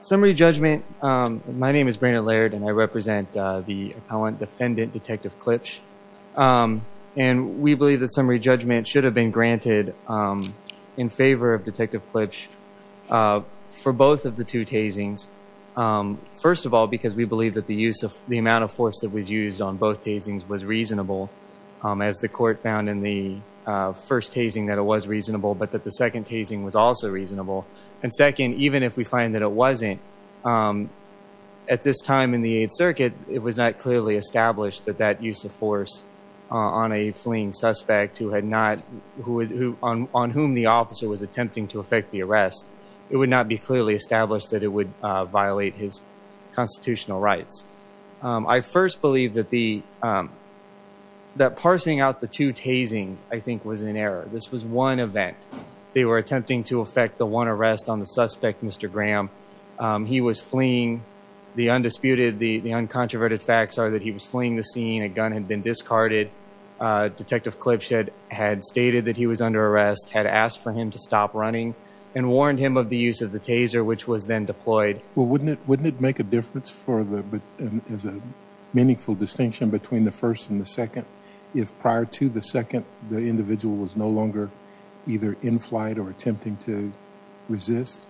Summary judgment, my name is Brandon Laird and I represent the appellant defendant Detective Klipsch and we believe that summary judgment should have been granted in favor of Detective Klipsch for both of the two tasings. First of all because we believe that the use of the amount of force that was used on both tasings was reasonable as the court found in the first tasing that it was reasonable but that the second tasing was also reasonable and second even if we find that it wasn't at this time in the 8th circuit it was not clearly established that that use of force on a fleeing suspect who had not who on whom the officer was attempting to affect the arrest it would not be clearly established that it would violate his constitutional rights. I first believe that the that parsing out the two tasings I think was an error this was one event they were attempting to affect the one arrest on the suspect Mr. Graham he was fleeing the undisputed the the uncontroverted facts are that he was fleeing the scene a gun had been discarded Detective Klipsch had stated that he was under arrest had asked for him to stop running and warned him of the use of the taser which was then deployed. Well wouldn't it wouldn't it make a difference for the as a meaningful distinction between the first and the second if prior to the second the individual was no longer either in flight or attempting to resist?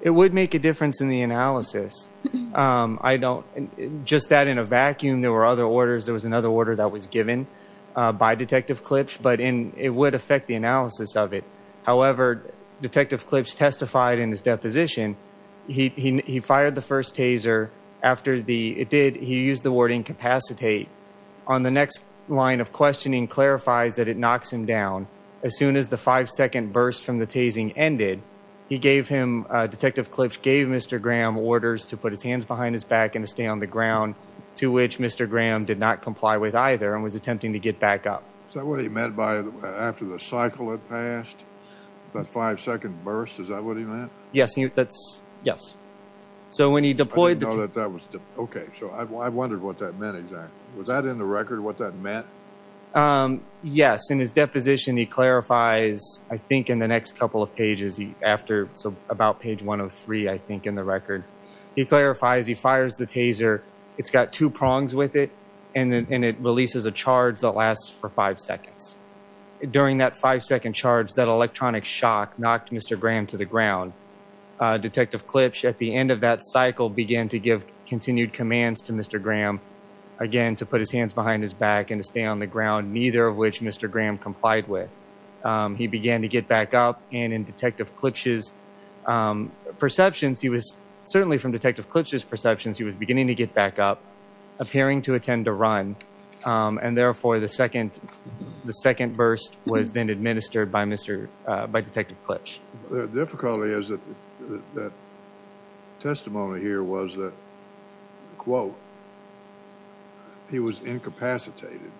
It would make a difference in the analysis I don't just that in a vacuum there were other orders there was another order that was given by Detective Klipsch but in it would affect the analysis of it however Detective Klipsch testified in his deposition he fired the first taser after the it did he used the word incapacitate on the next line of questioning clarifies that it knocks him down as soon as the five-second burst from the tasing ended he gave him Detective Klipsch gave Mr. Graham orders to put his hands behind his back and to stay on the ground to which Mr. Graham did not comply with either and was attempting to get back up. So what he meant by after the cycle had passed that five-second burst is that what he meant? Yes he that's yes so when he deployed that that was okay so I wondered what that meant exactly was that in the record what that meant? Yes in his deposition he clarifies I think in the next couple of pages he after so about page 103 I think in the record he clarifies he fires the taser it's got two prongs with it and then it releases a charge that lasts for five seconds during that five-second charge that electronic shock knocked Mr. Graham to the ground Detective Klipsch at the end of that cycle began to give continued commands to Mr. Graham again to put his hands behind his back and to stay on the ground neither of which Mr. Graham complied with he began to get back up and in Detective Klipsch's perceptions he was certainly from Detective Klipsch's perceptions he was appearing to attend a run and therefore the second the second burst was then administered by Mr. by Detective Klipsch. The difficulty is that that testimony here was that quote he was incapacitated.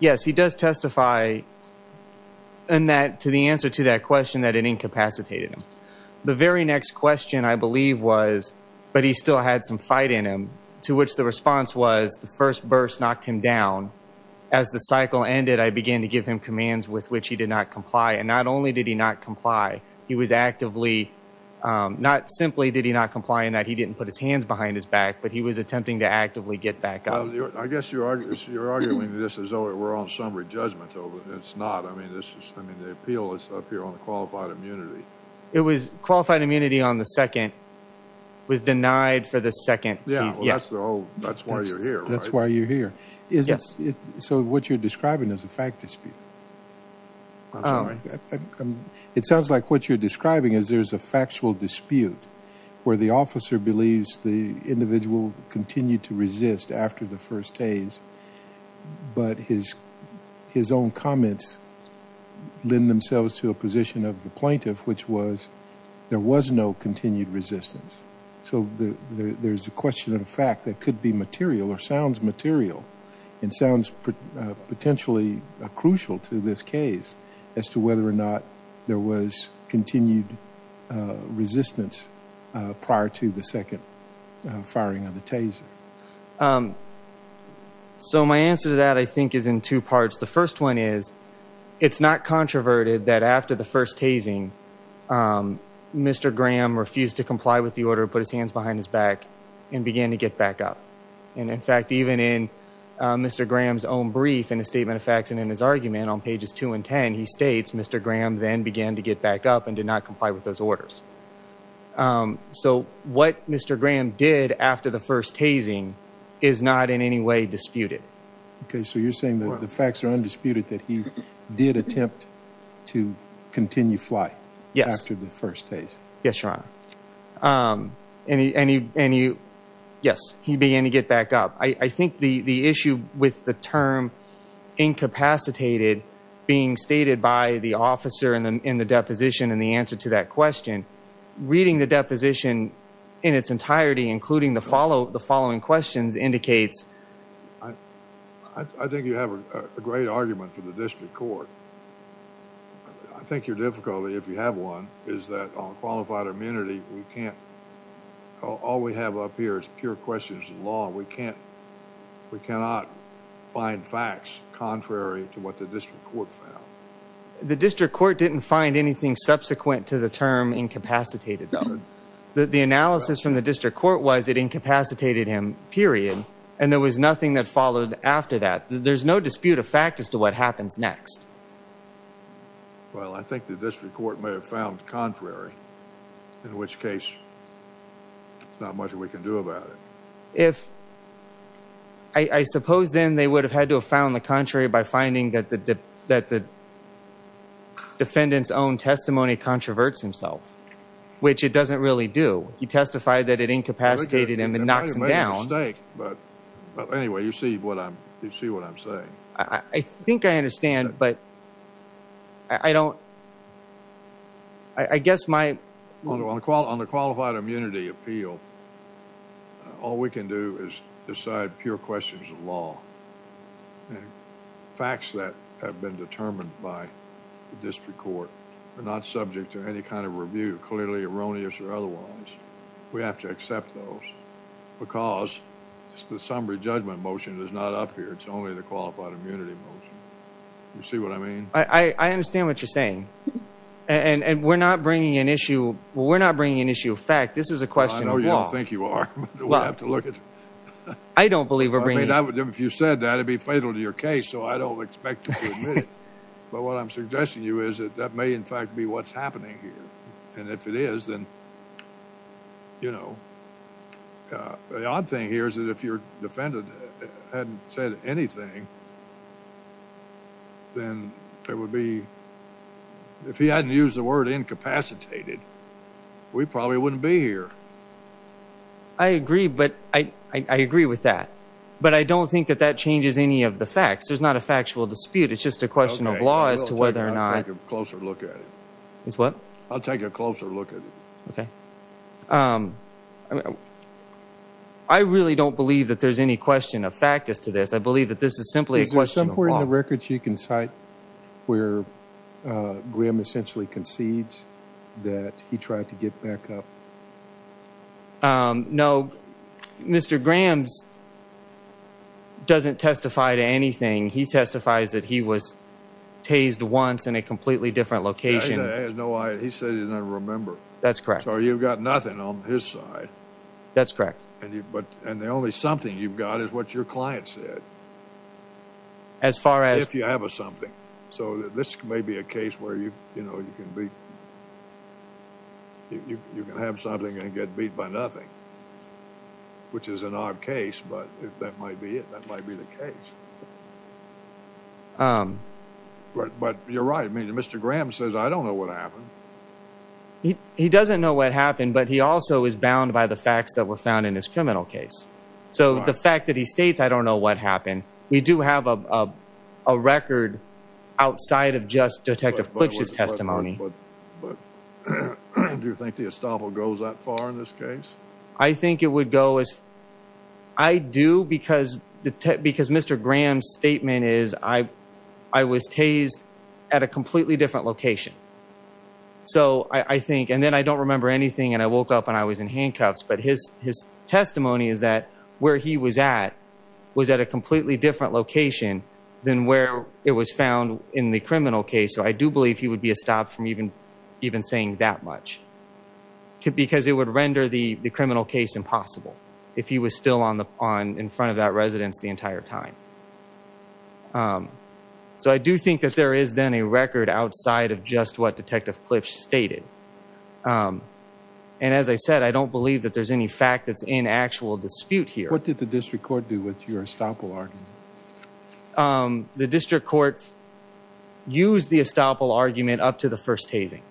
Yes he does testify in that to the answer to that question that it incapacitated him the very next question I believe was but he still had some fight in him to which the response was the first burst knocked him down as the cycle ended I began to give him commands with which he did not comply and not only did he not comply he was actively not simply did he not comply and that he didn't put his hands behind his back but he was attempting to actively get back up. I guess you're arguing this as though we're on summary judgment over it's not I mean this is I mean the appeal is up here on the qualified immunity. It was qualified immunity on the second was denied for the second. Yeah that's the whole that's why you're here. That's why you're here. Yes. So what you're describing is a fact dispute. I'm sorry. It sounds like what you're describing is there's a factual dispute where the officer believes the individual continued to resist after the first days but his his own comments lend themselves to a position of the resistance. So there's a question of fact that could be material or sounds material and sounds potentially crucial to this case as to whether or not there was continued resistance prior to the second firing of the taser. So my answer to that I think is in two parts the first one is it's not controverted that after the first hazing Mr. Graham refused to comply with the order put his hands behind his back and began to get back up and in fact even in Mr. Graham's own brief in a statement of facts and in his argument on pages 2 and 10 he states Mr. Graham then began to get back up and did not comply with those orders. So what Mr. Graham did after the first hazing is not in any way disputed. Okay so you're saying that the facts are undisputed that he did attempt to continue flight. Yes. After the first hazing. Yes your honor. And he yes he began to get back up. I think the the issue with the term incapacitated being stated by the officer and then in the deposition and the answer to that question reading the deposition in its entirety including the following questions indicates. I think you have a great argument for the district court. I think your difficulty if you have one is that on qualified immunity we can't all we have up here is pure questions of law we can't we cannot find facts contrary to what the district court found. The district court didn't find anything subsequent to the term incapacitated. The analysis from the incapacitated him period and there was nothing that followed after that. There's no dispute of fact as to what happens next. Well I think that this report may have found contrary in which case not much we can do about it. If I suppose then they would have had to have found the contrary by finding that the that the defendant's own testimony controverts himself which it doesn't really do. He testified that it incapacitated him and knocks him down. But anyway you see what I'm you see what I'm saying. I think I understand but I don't I guess my. On the qualified immunity appeal all we can do is decide pure questions of law. Facts that have been determined by the district court are not subject to any kind of review clearly erroneous or otherwise. We have to accept those because it's the summary judgment motion is not up here it's only the qualified immunity motion. You see what I mean? I understand what you're saying and and we're not bringing an issue well we're not bringing an issue of fact this is a question of law. I know you don't think you are. I don't believe we're bringing an issue. If you said that it'd be fatal to your case so I don't expect but what I'm suggesting you is that that may in fact be what's happening here and if it is then you know the odd thing here is that if your defendant hadn't said anything then there would be if he hadn't used the word incapacitated we probably wouldn't be here. I agree but I I agree with that but I don't think that that changes any of the facts there's not a factual dispute it's just a question of law as to whether or not. I'll take a closer look at it. Is what? I'll take a closer look at it. Okay. I really don't believe that there's any question of fact as to this I believe that this is simply a question of law. Is there somewhere in the records you can cite where Graham essentially concedes that he tried to get back up? No. Mr. Graham doesn't testify to anything. He testifies that he was tased once in a completely different location. He said he doesn't remember. That's correct. So you've got nothing on his side. That's correct. And you but and the only something you've got is what your client said. As far as? If you have a something. So this may be a case where you you know you can be you can have something and get beat by nothing. Which is an odd case but if that might be it that might be the case. But you're right I mean Mr. Graham says I don't know what happened. He doesn't know what happened but he also is bound by the facts that were found in his criminal case. So the fact that he states I don't know what happened. We do have a record outside of just Detective Fletcher's testimony. But do you think the estoppel goes that far in this case? I think it would go as I do because the because Mr. Graham's statement is I I was tased at a completely different location. So I think and then I don't remember anything and I woke up and I was in a completely different location than where it was found in the criminal case. So I do believe he would be estopped from even even saying that much. Because it would render the criminal case impossible. If he was still on the on in front of that residence the entire time. So I do think that there is then a record outside of just what Detective Fletcher stated. And as I said I don't believe that there's any fact that's in actual dispute here. What did the district court do with your estoppel argument? The district court used the estoppel argument up to the first tasing.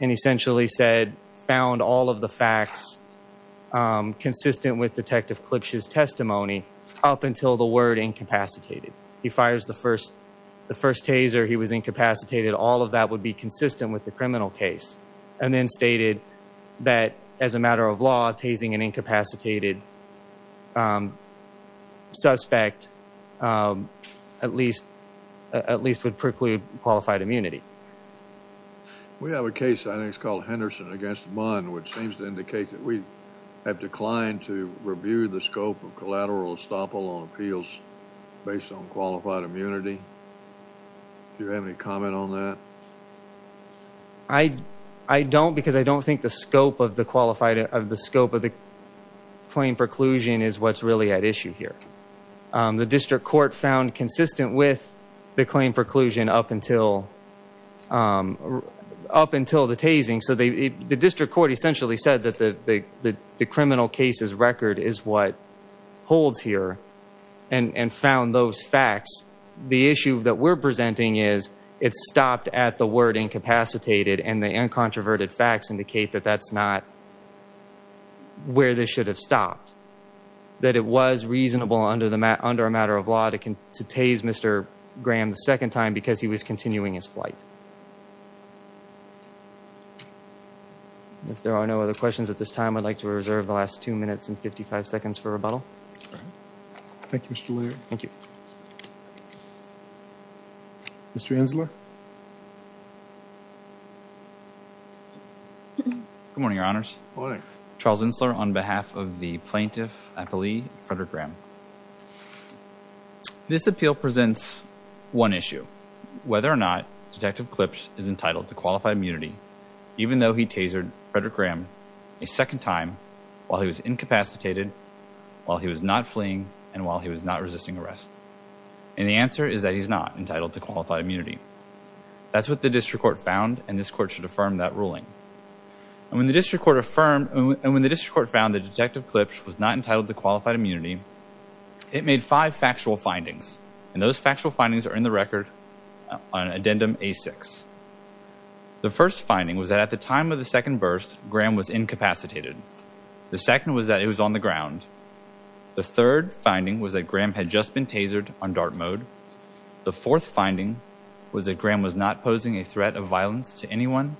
And essentially said found all of the facts consistent with Detective Fletcher's testimony up until the word incapacitated. He fires the first the first tase or he was incapacitated. All of that would be consistent with the suspect at least at least would preclude qualified immunity. We have a case I think it's called Henderson against Munn which seems to indicate that we have declined to review the scope of collateral estoppel on appeals based on qualified immunity. Do you have any comment on that? I I don't because I don't think the scope of the qualified of the claim preclusion is what's really at issue here. The district court found consistent with the claim preclusion up until up until the tasing. So the district court essentially said that the the criminal case's record is what holds here and found those facts. The issue that we're presenting is it stopped at the word incapacitated and the uncontroverted facts indicate that that's not where this should have stopped. That it was reasonable under the matter under a matter of law to to tase Mr. Graham the second time because he was continuing his flight. If there are no other questions at this time I'd like to reserve the last two minutes and 55 seconds for rebuttal. Thank you Mr. Laird. Thank you. Mr. Ensler. Good morning, your honors. Charles Ensler on behalf of the plaintiff at the Lee, Frederick Graham. This appeal presents one issue. Whether or not Detective Klipsch is entitled to qualified immunity even though he tasered Frederick Graham a second time while he was incapacitated, while he was not fleeing, and while he was not resisting arrest. And the answer is that he was not entitled to qualified immunity. That's what the district court found and this court should affirm that ruling. And when the district court affirmed and when the district court found that Detective Klipsch was not entitled to qualified immunity, it made five factual findings. And those factual findings are in the record on addendum A6. The first finding was that at the time of the second burst, Graham was incapacitated. The second was that he was on the ground. The third finding was that Graham had just been tasered on the ground. The fourth finding was that Graham was not posing a threat of violence to anyone,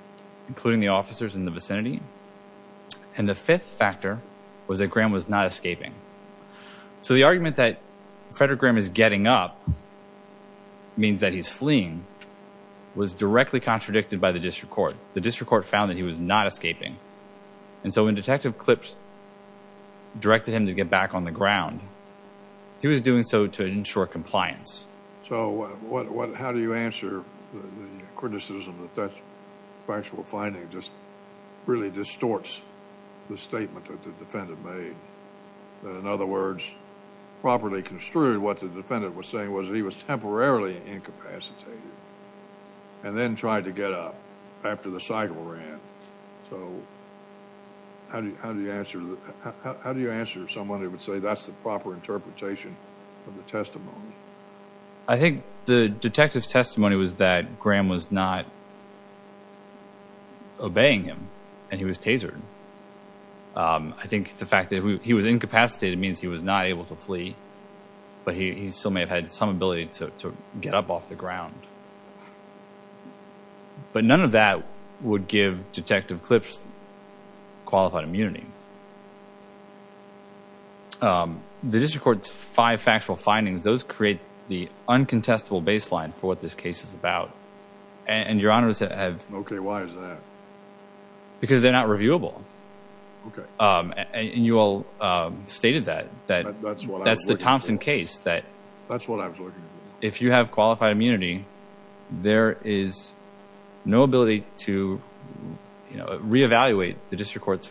including the officers in the vicinity. And the fifth factor was that Graham was not escaping. So the argument that Frederick Graham is getting up means that he's fleeing was directly contradicted by the district court. The district court found that he was not escaping. And so when Detective Klipsch directed him to get back on the ground, how do you answer the criticism that that factual finding just really distorts the statement that the defendant made? That, in other words, properly construed what the defendant was saying was that he was temporarily incapacitated and then tried to get up after the cycle ran. So how do you answer that? How do you answer someone who would say that's the proper interpretation of the testimony? I think the detective's testimony was that Graham was not obeying him. And he was tasered. I think the fact that he was incapacitated means he was not able to flee. But he still may have had some ability to get up off the ground. But none of that would give Detective Klipsch qualified immunity. The uncontestable baseline for what this case is about. And your honors have Okay, why is that? Because they're not reviewable. Okay. And you all stated that, that's what that's the Thompson case that that's what I was looking at. If you have qualified immunity, there is no ability to reevaluate the case.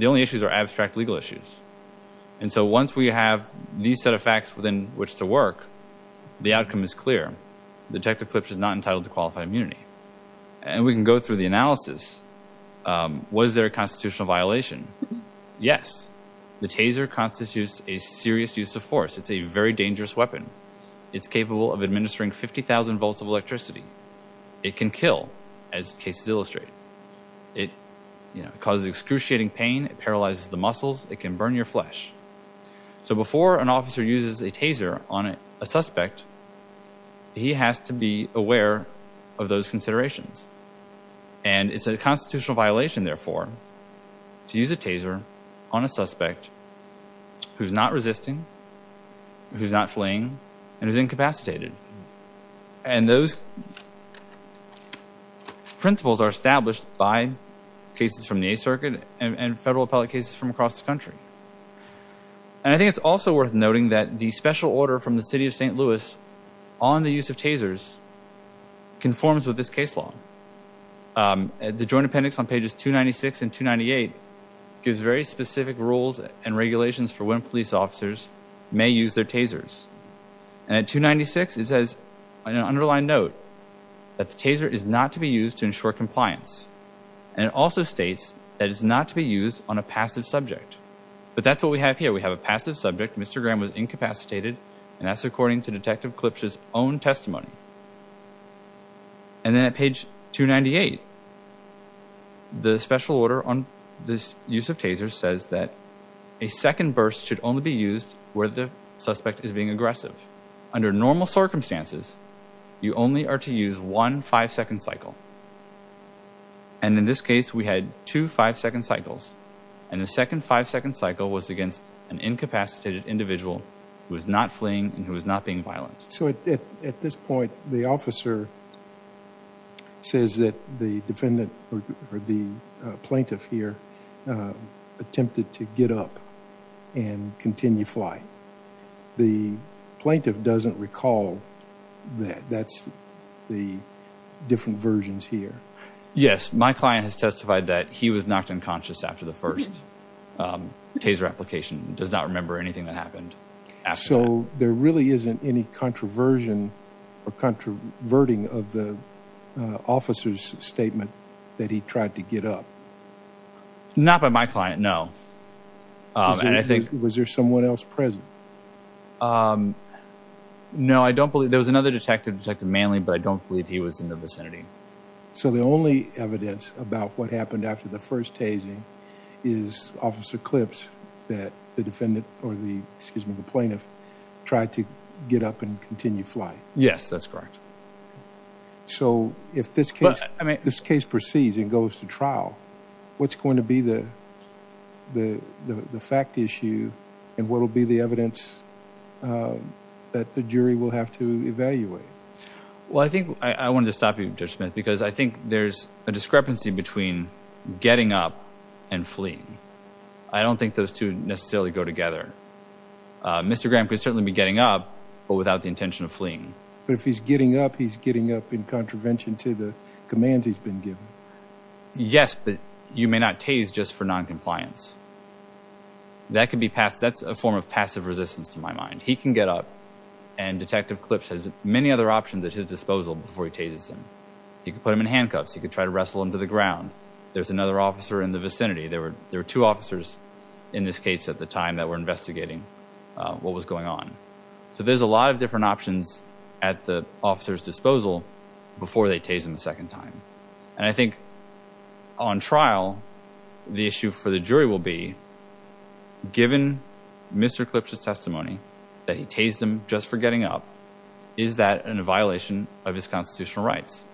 The only issues are abstract legal issues. And so once we have these set of facts within which to work, the outcome is clear. Detective Klipsch is not entitled to qualify immunity. And we can go through the analysis. Was there a constitutional violation? Yes. The taser constitutes a serious use of force. It's a very dangerous weapon. It's capable of administering 50,000 volts of electricity. It can kill, as cases illustrate. It causes excruciating pain, it paralyzes the muscles, it can burn your flesh. So before an officer uses a taser on a suspect, he has to be aware of those considerations. And it's a constitutional violation, therefore, to use a taser on a suspect who's not resisting, who's not fleeing, and is incapacitated. And those principles are applicable to all public cases from across the country. And I think it's also worth noting that the special order from the city of St. Louis on the use of tasers conforms with this case law. The Joint Appendix on pages 296 and 298 gives very specific rules and regulations for when police officers may use their tasers. And at 296, it says, in an underlined note, that the taser is not to be used to ensure compliance. And it also states that it's not to be used on a passive subject. But that's what we have here. We have a passive subject. Mr. Graham was incapacitated. And that's according to Detective Klipsch's own testimony. And then at page 298, the So at this point, the officer says that the defendant, or the plaintiff here, attempted to get up and continue flying. The plaintiff doesn't recall that. That's the different versions here. Yes, my client has testified that he was knocked unconscious after the first taser application. Does not remember anything that happened after that. So there really isn't any controversion or controverting of the officer's statement that he tried to get up? Not by my client, no. Was there someone else present? No, I don't believe there was another detective, Detective Manley, but I don't believe he was in the vicinity. So the only evidence about what happened after the first tasing is Officer Klipsch that the defendant, or the plaintiff, tried to get up and continue flying? Yes, that's correct. So if this case proceeds and goes to trial, what's going to be the fact issue and what will be the evidence that the jury will have to evaluate? Well, I think I wanted to stop you, Judge Smith, because I think there's a discrepancy between getting up and fleeing. I don't think those two necessarily go together. Mr. Graham could certainly be getting up, but without the intention of fleeing. But if he's getting up, he's getting up in contravention to the commands he's been given? Yes, but you may not tase just for non-compliance. That's a form of passive resistance to my mind. He can get up, and Detective Klipsch has many other options at his disposal before he tases him. He could put him in handcuffs. He could try to wrestle him to the ground. There's another officer in the vicinity. There were two officers in this case at the time that were investigating what was going on. So there's a lot of different options at the officer's disposal before they tase him a second time. And I think on trial, the issue for the jury will be, given Mr. Klipsch's testimony that he tased him just for getting up, is that a violation of his constitutional rights?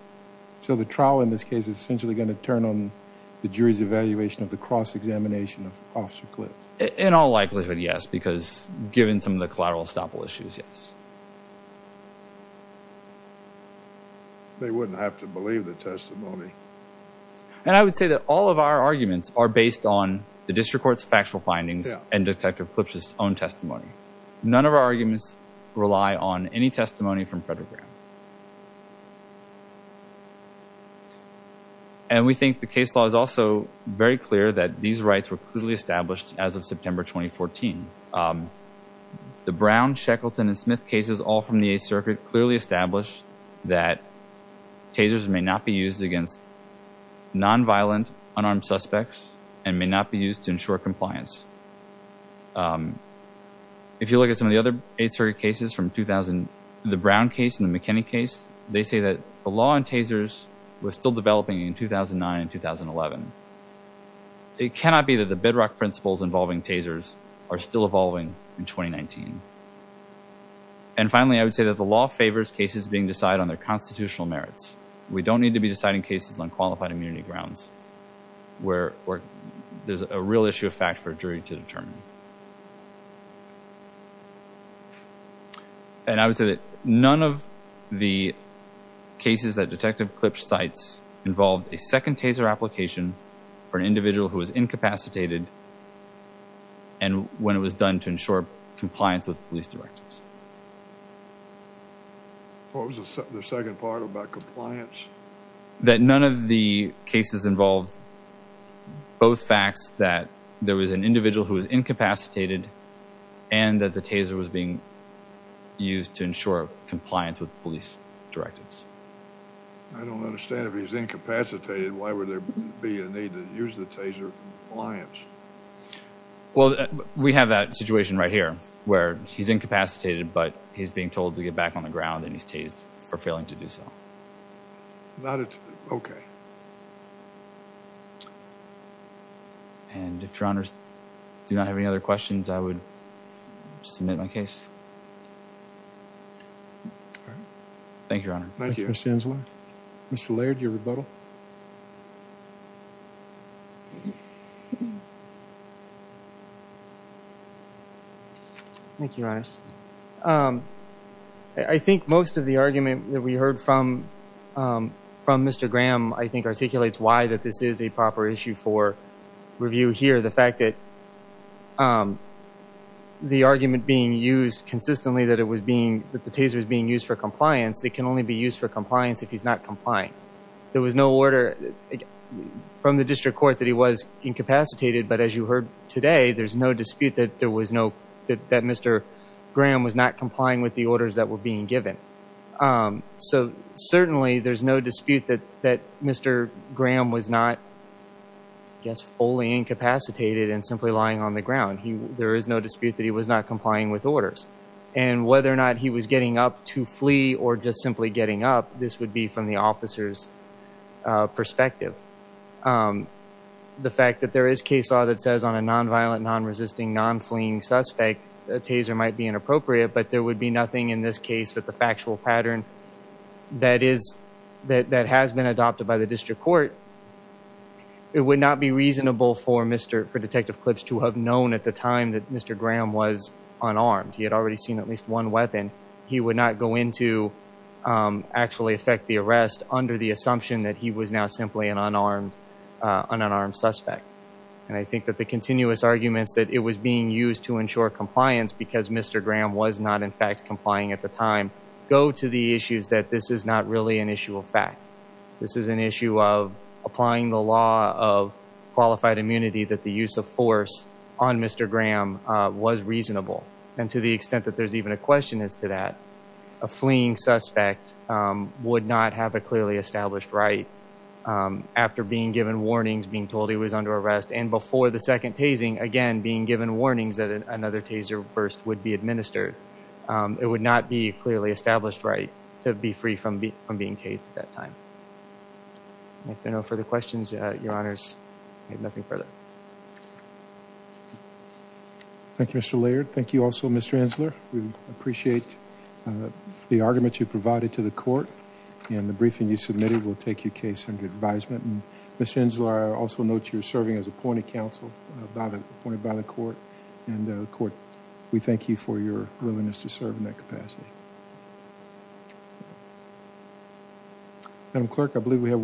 So the trial in this case is essentially going to turn on the jury's evaluation of the cross-examination of Officer Klipsch? In all likelihood, yes, because given some of the collateral estoppel issues, yes. They wouldn't have to believe the testimony. And I would say that all of our arguments are based on the district court's factual findings and Detective Klipsch's own testimony. None of our arguments rely on any testimony from Frederick Graham. And we think the case law is also very clear that these rights were clearly established as September 2014. The Brown, Shackleton, and Smith cases, all from the Eighth Circuit, clearly established that tasers may not be used against non-violent, unarmed suspects and may not be used to ensure compliance. If you look at some of the other Eighth Circuit cases from 2000, the Brown case and the McKinney case, they say that the law on tasers was still are still evolving in 2019. And finally, I would say that the law favors cases being decided on their constitutional merits. We don't need to be deciding cases on qualified immunity grounds where there's a real issue of fact for a jury to determine. And I would say that none of the cases that Detective Klipsch cites involved a second taser application for an individual who was incapacitated and when it was done to ensure compliance with police directives. What was the second part about compliance? That none of the cases involved both facts that there was an individual who was incapacitated and that the taser was being used to ensure compliance with police directives. I don't understand if he's incapacitated, why would there be a need to use the taser compliance? Well, we have that situation right here where he's incapacitated, but he's being told to get back on the ground and he's tased for failing to do so. Okay. And if your honors do not have any other questions, I would submit my case. All right. Thank you, your honor. Thank you, Mr. Inslaw. Mr. Laird, your rebuttal. Thank you, your honors. I think most of the argument that we heard from Mr. Graham I think articulates why that this is a proper issue for review here. The fact that the argument being used consistently that the taser was being used for compliance, it can only be used for compliance if he's not complying. There was no order from the district court that he was incapacitated, but as you heard today, there's no dispute that Mr. Graham was not complying with the orders that were being given. So certainly there's no dispute that Mr. Graham was not, I guess, fully incapacitated and simply on the ground. There is no dispute that he was not complying with orders and whether or not he was getting up to flee or just simply getting up, this would be from the officer's perspective. The fact that there is case law that says on a non-violent, non-resisting, non-fleeing suspect, a taser might be inappropriate, but there would be nothing in this case with the factual pattern that is, that has been adopted by the district court. It would not be reasonable for detective Clips to have known at the time that Mr. Graham was unarmed. He had already seen at least one weapon. He would not go in to actually affect the arrest under the assumption that he was now simply an unarmed, an unarmed suspect. And I think that the continuous arguments that it was being used to ensure compliance because Mr. Graham was not in fact complying at the time, go to the issues that this is not really an issue of fact. This is an issue of applying the law of qualified immunity that the use of force on Mr. Graham was reasonable. And to the extent that there's even a question as to that, a fleeing suspect would not have a clearly established right after being given warnings, being told he was under arrest, and before the second tasing, again, being given warnings that another taser burst would be administered. It would not be clearly established right to be free from being tased at that time. If there are no further questions, your honors, I have nothing further. Thank you, Mr. Laird. Thank you also, Mr. Enzler. We appreciate the argument you provided to the court and the briefing you submitted will take your case under advisement. And Ms. Enzler, I also note you're serving as appointed counsel, appointed by the court. And the court, we thank you for your willingness to serve in that capacity. Madam Clerk, I believe we have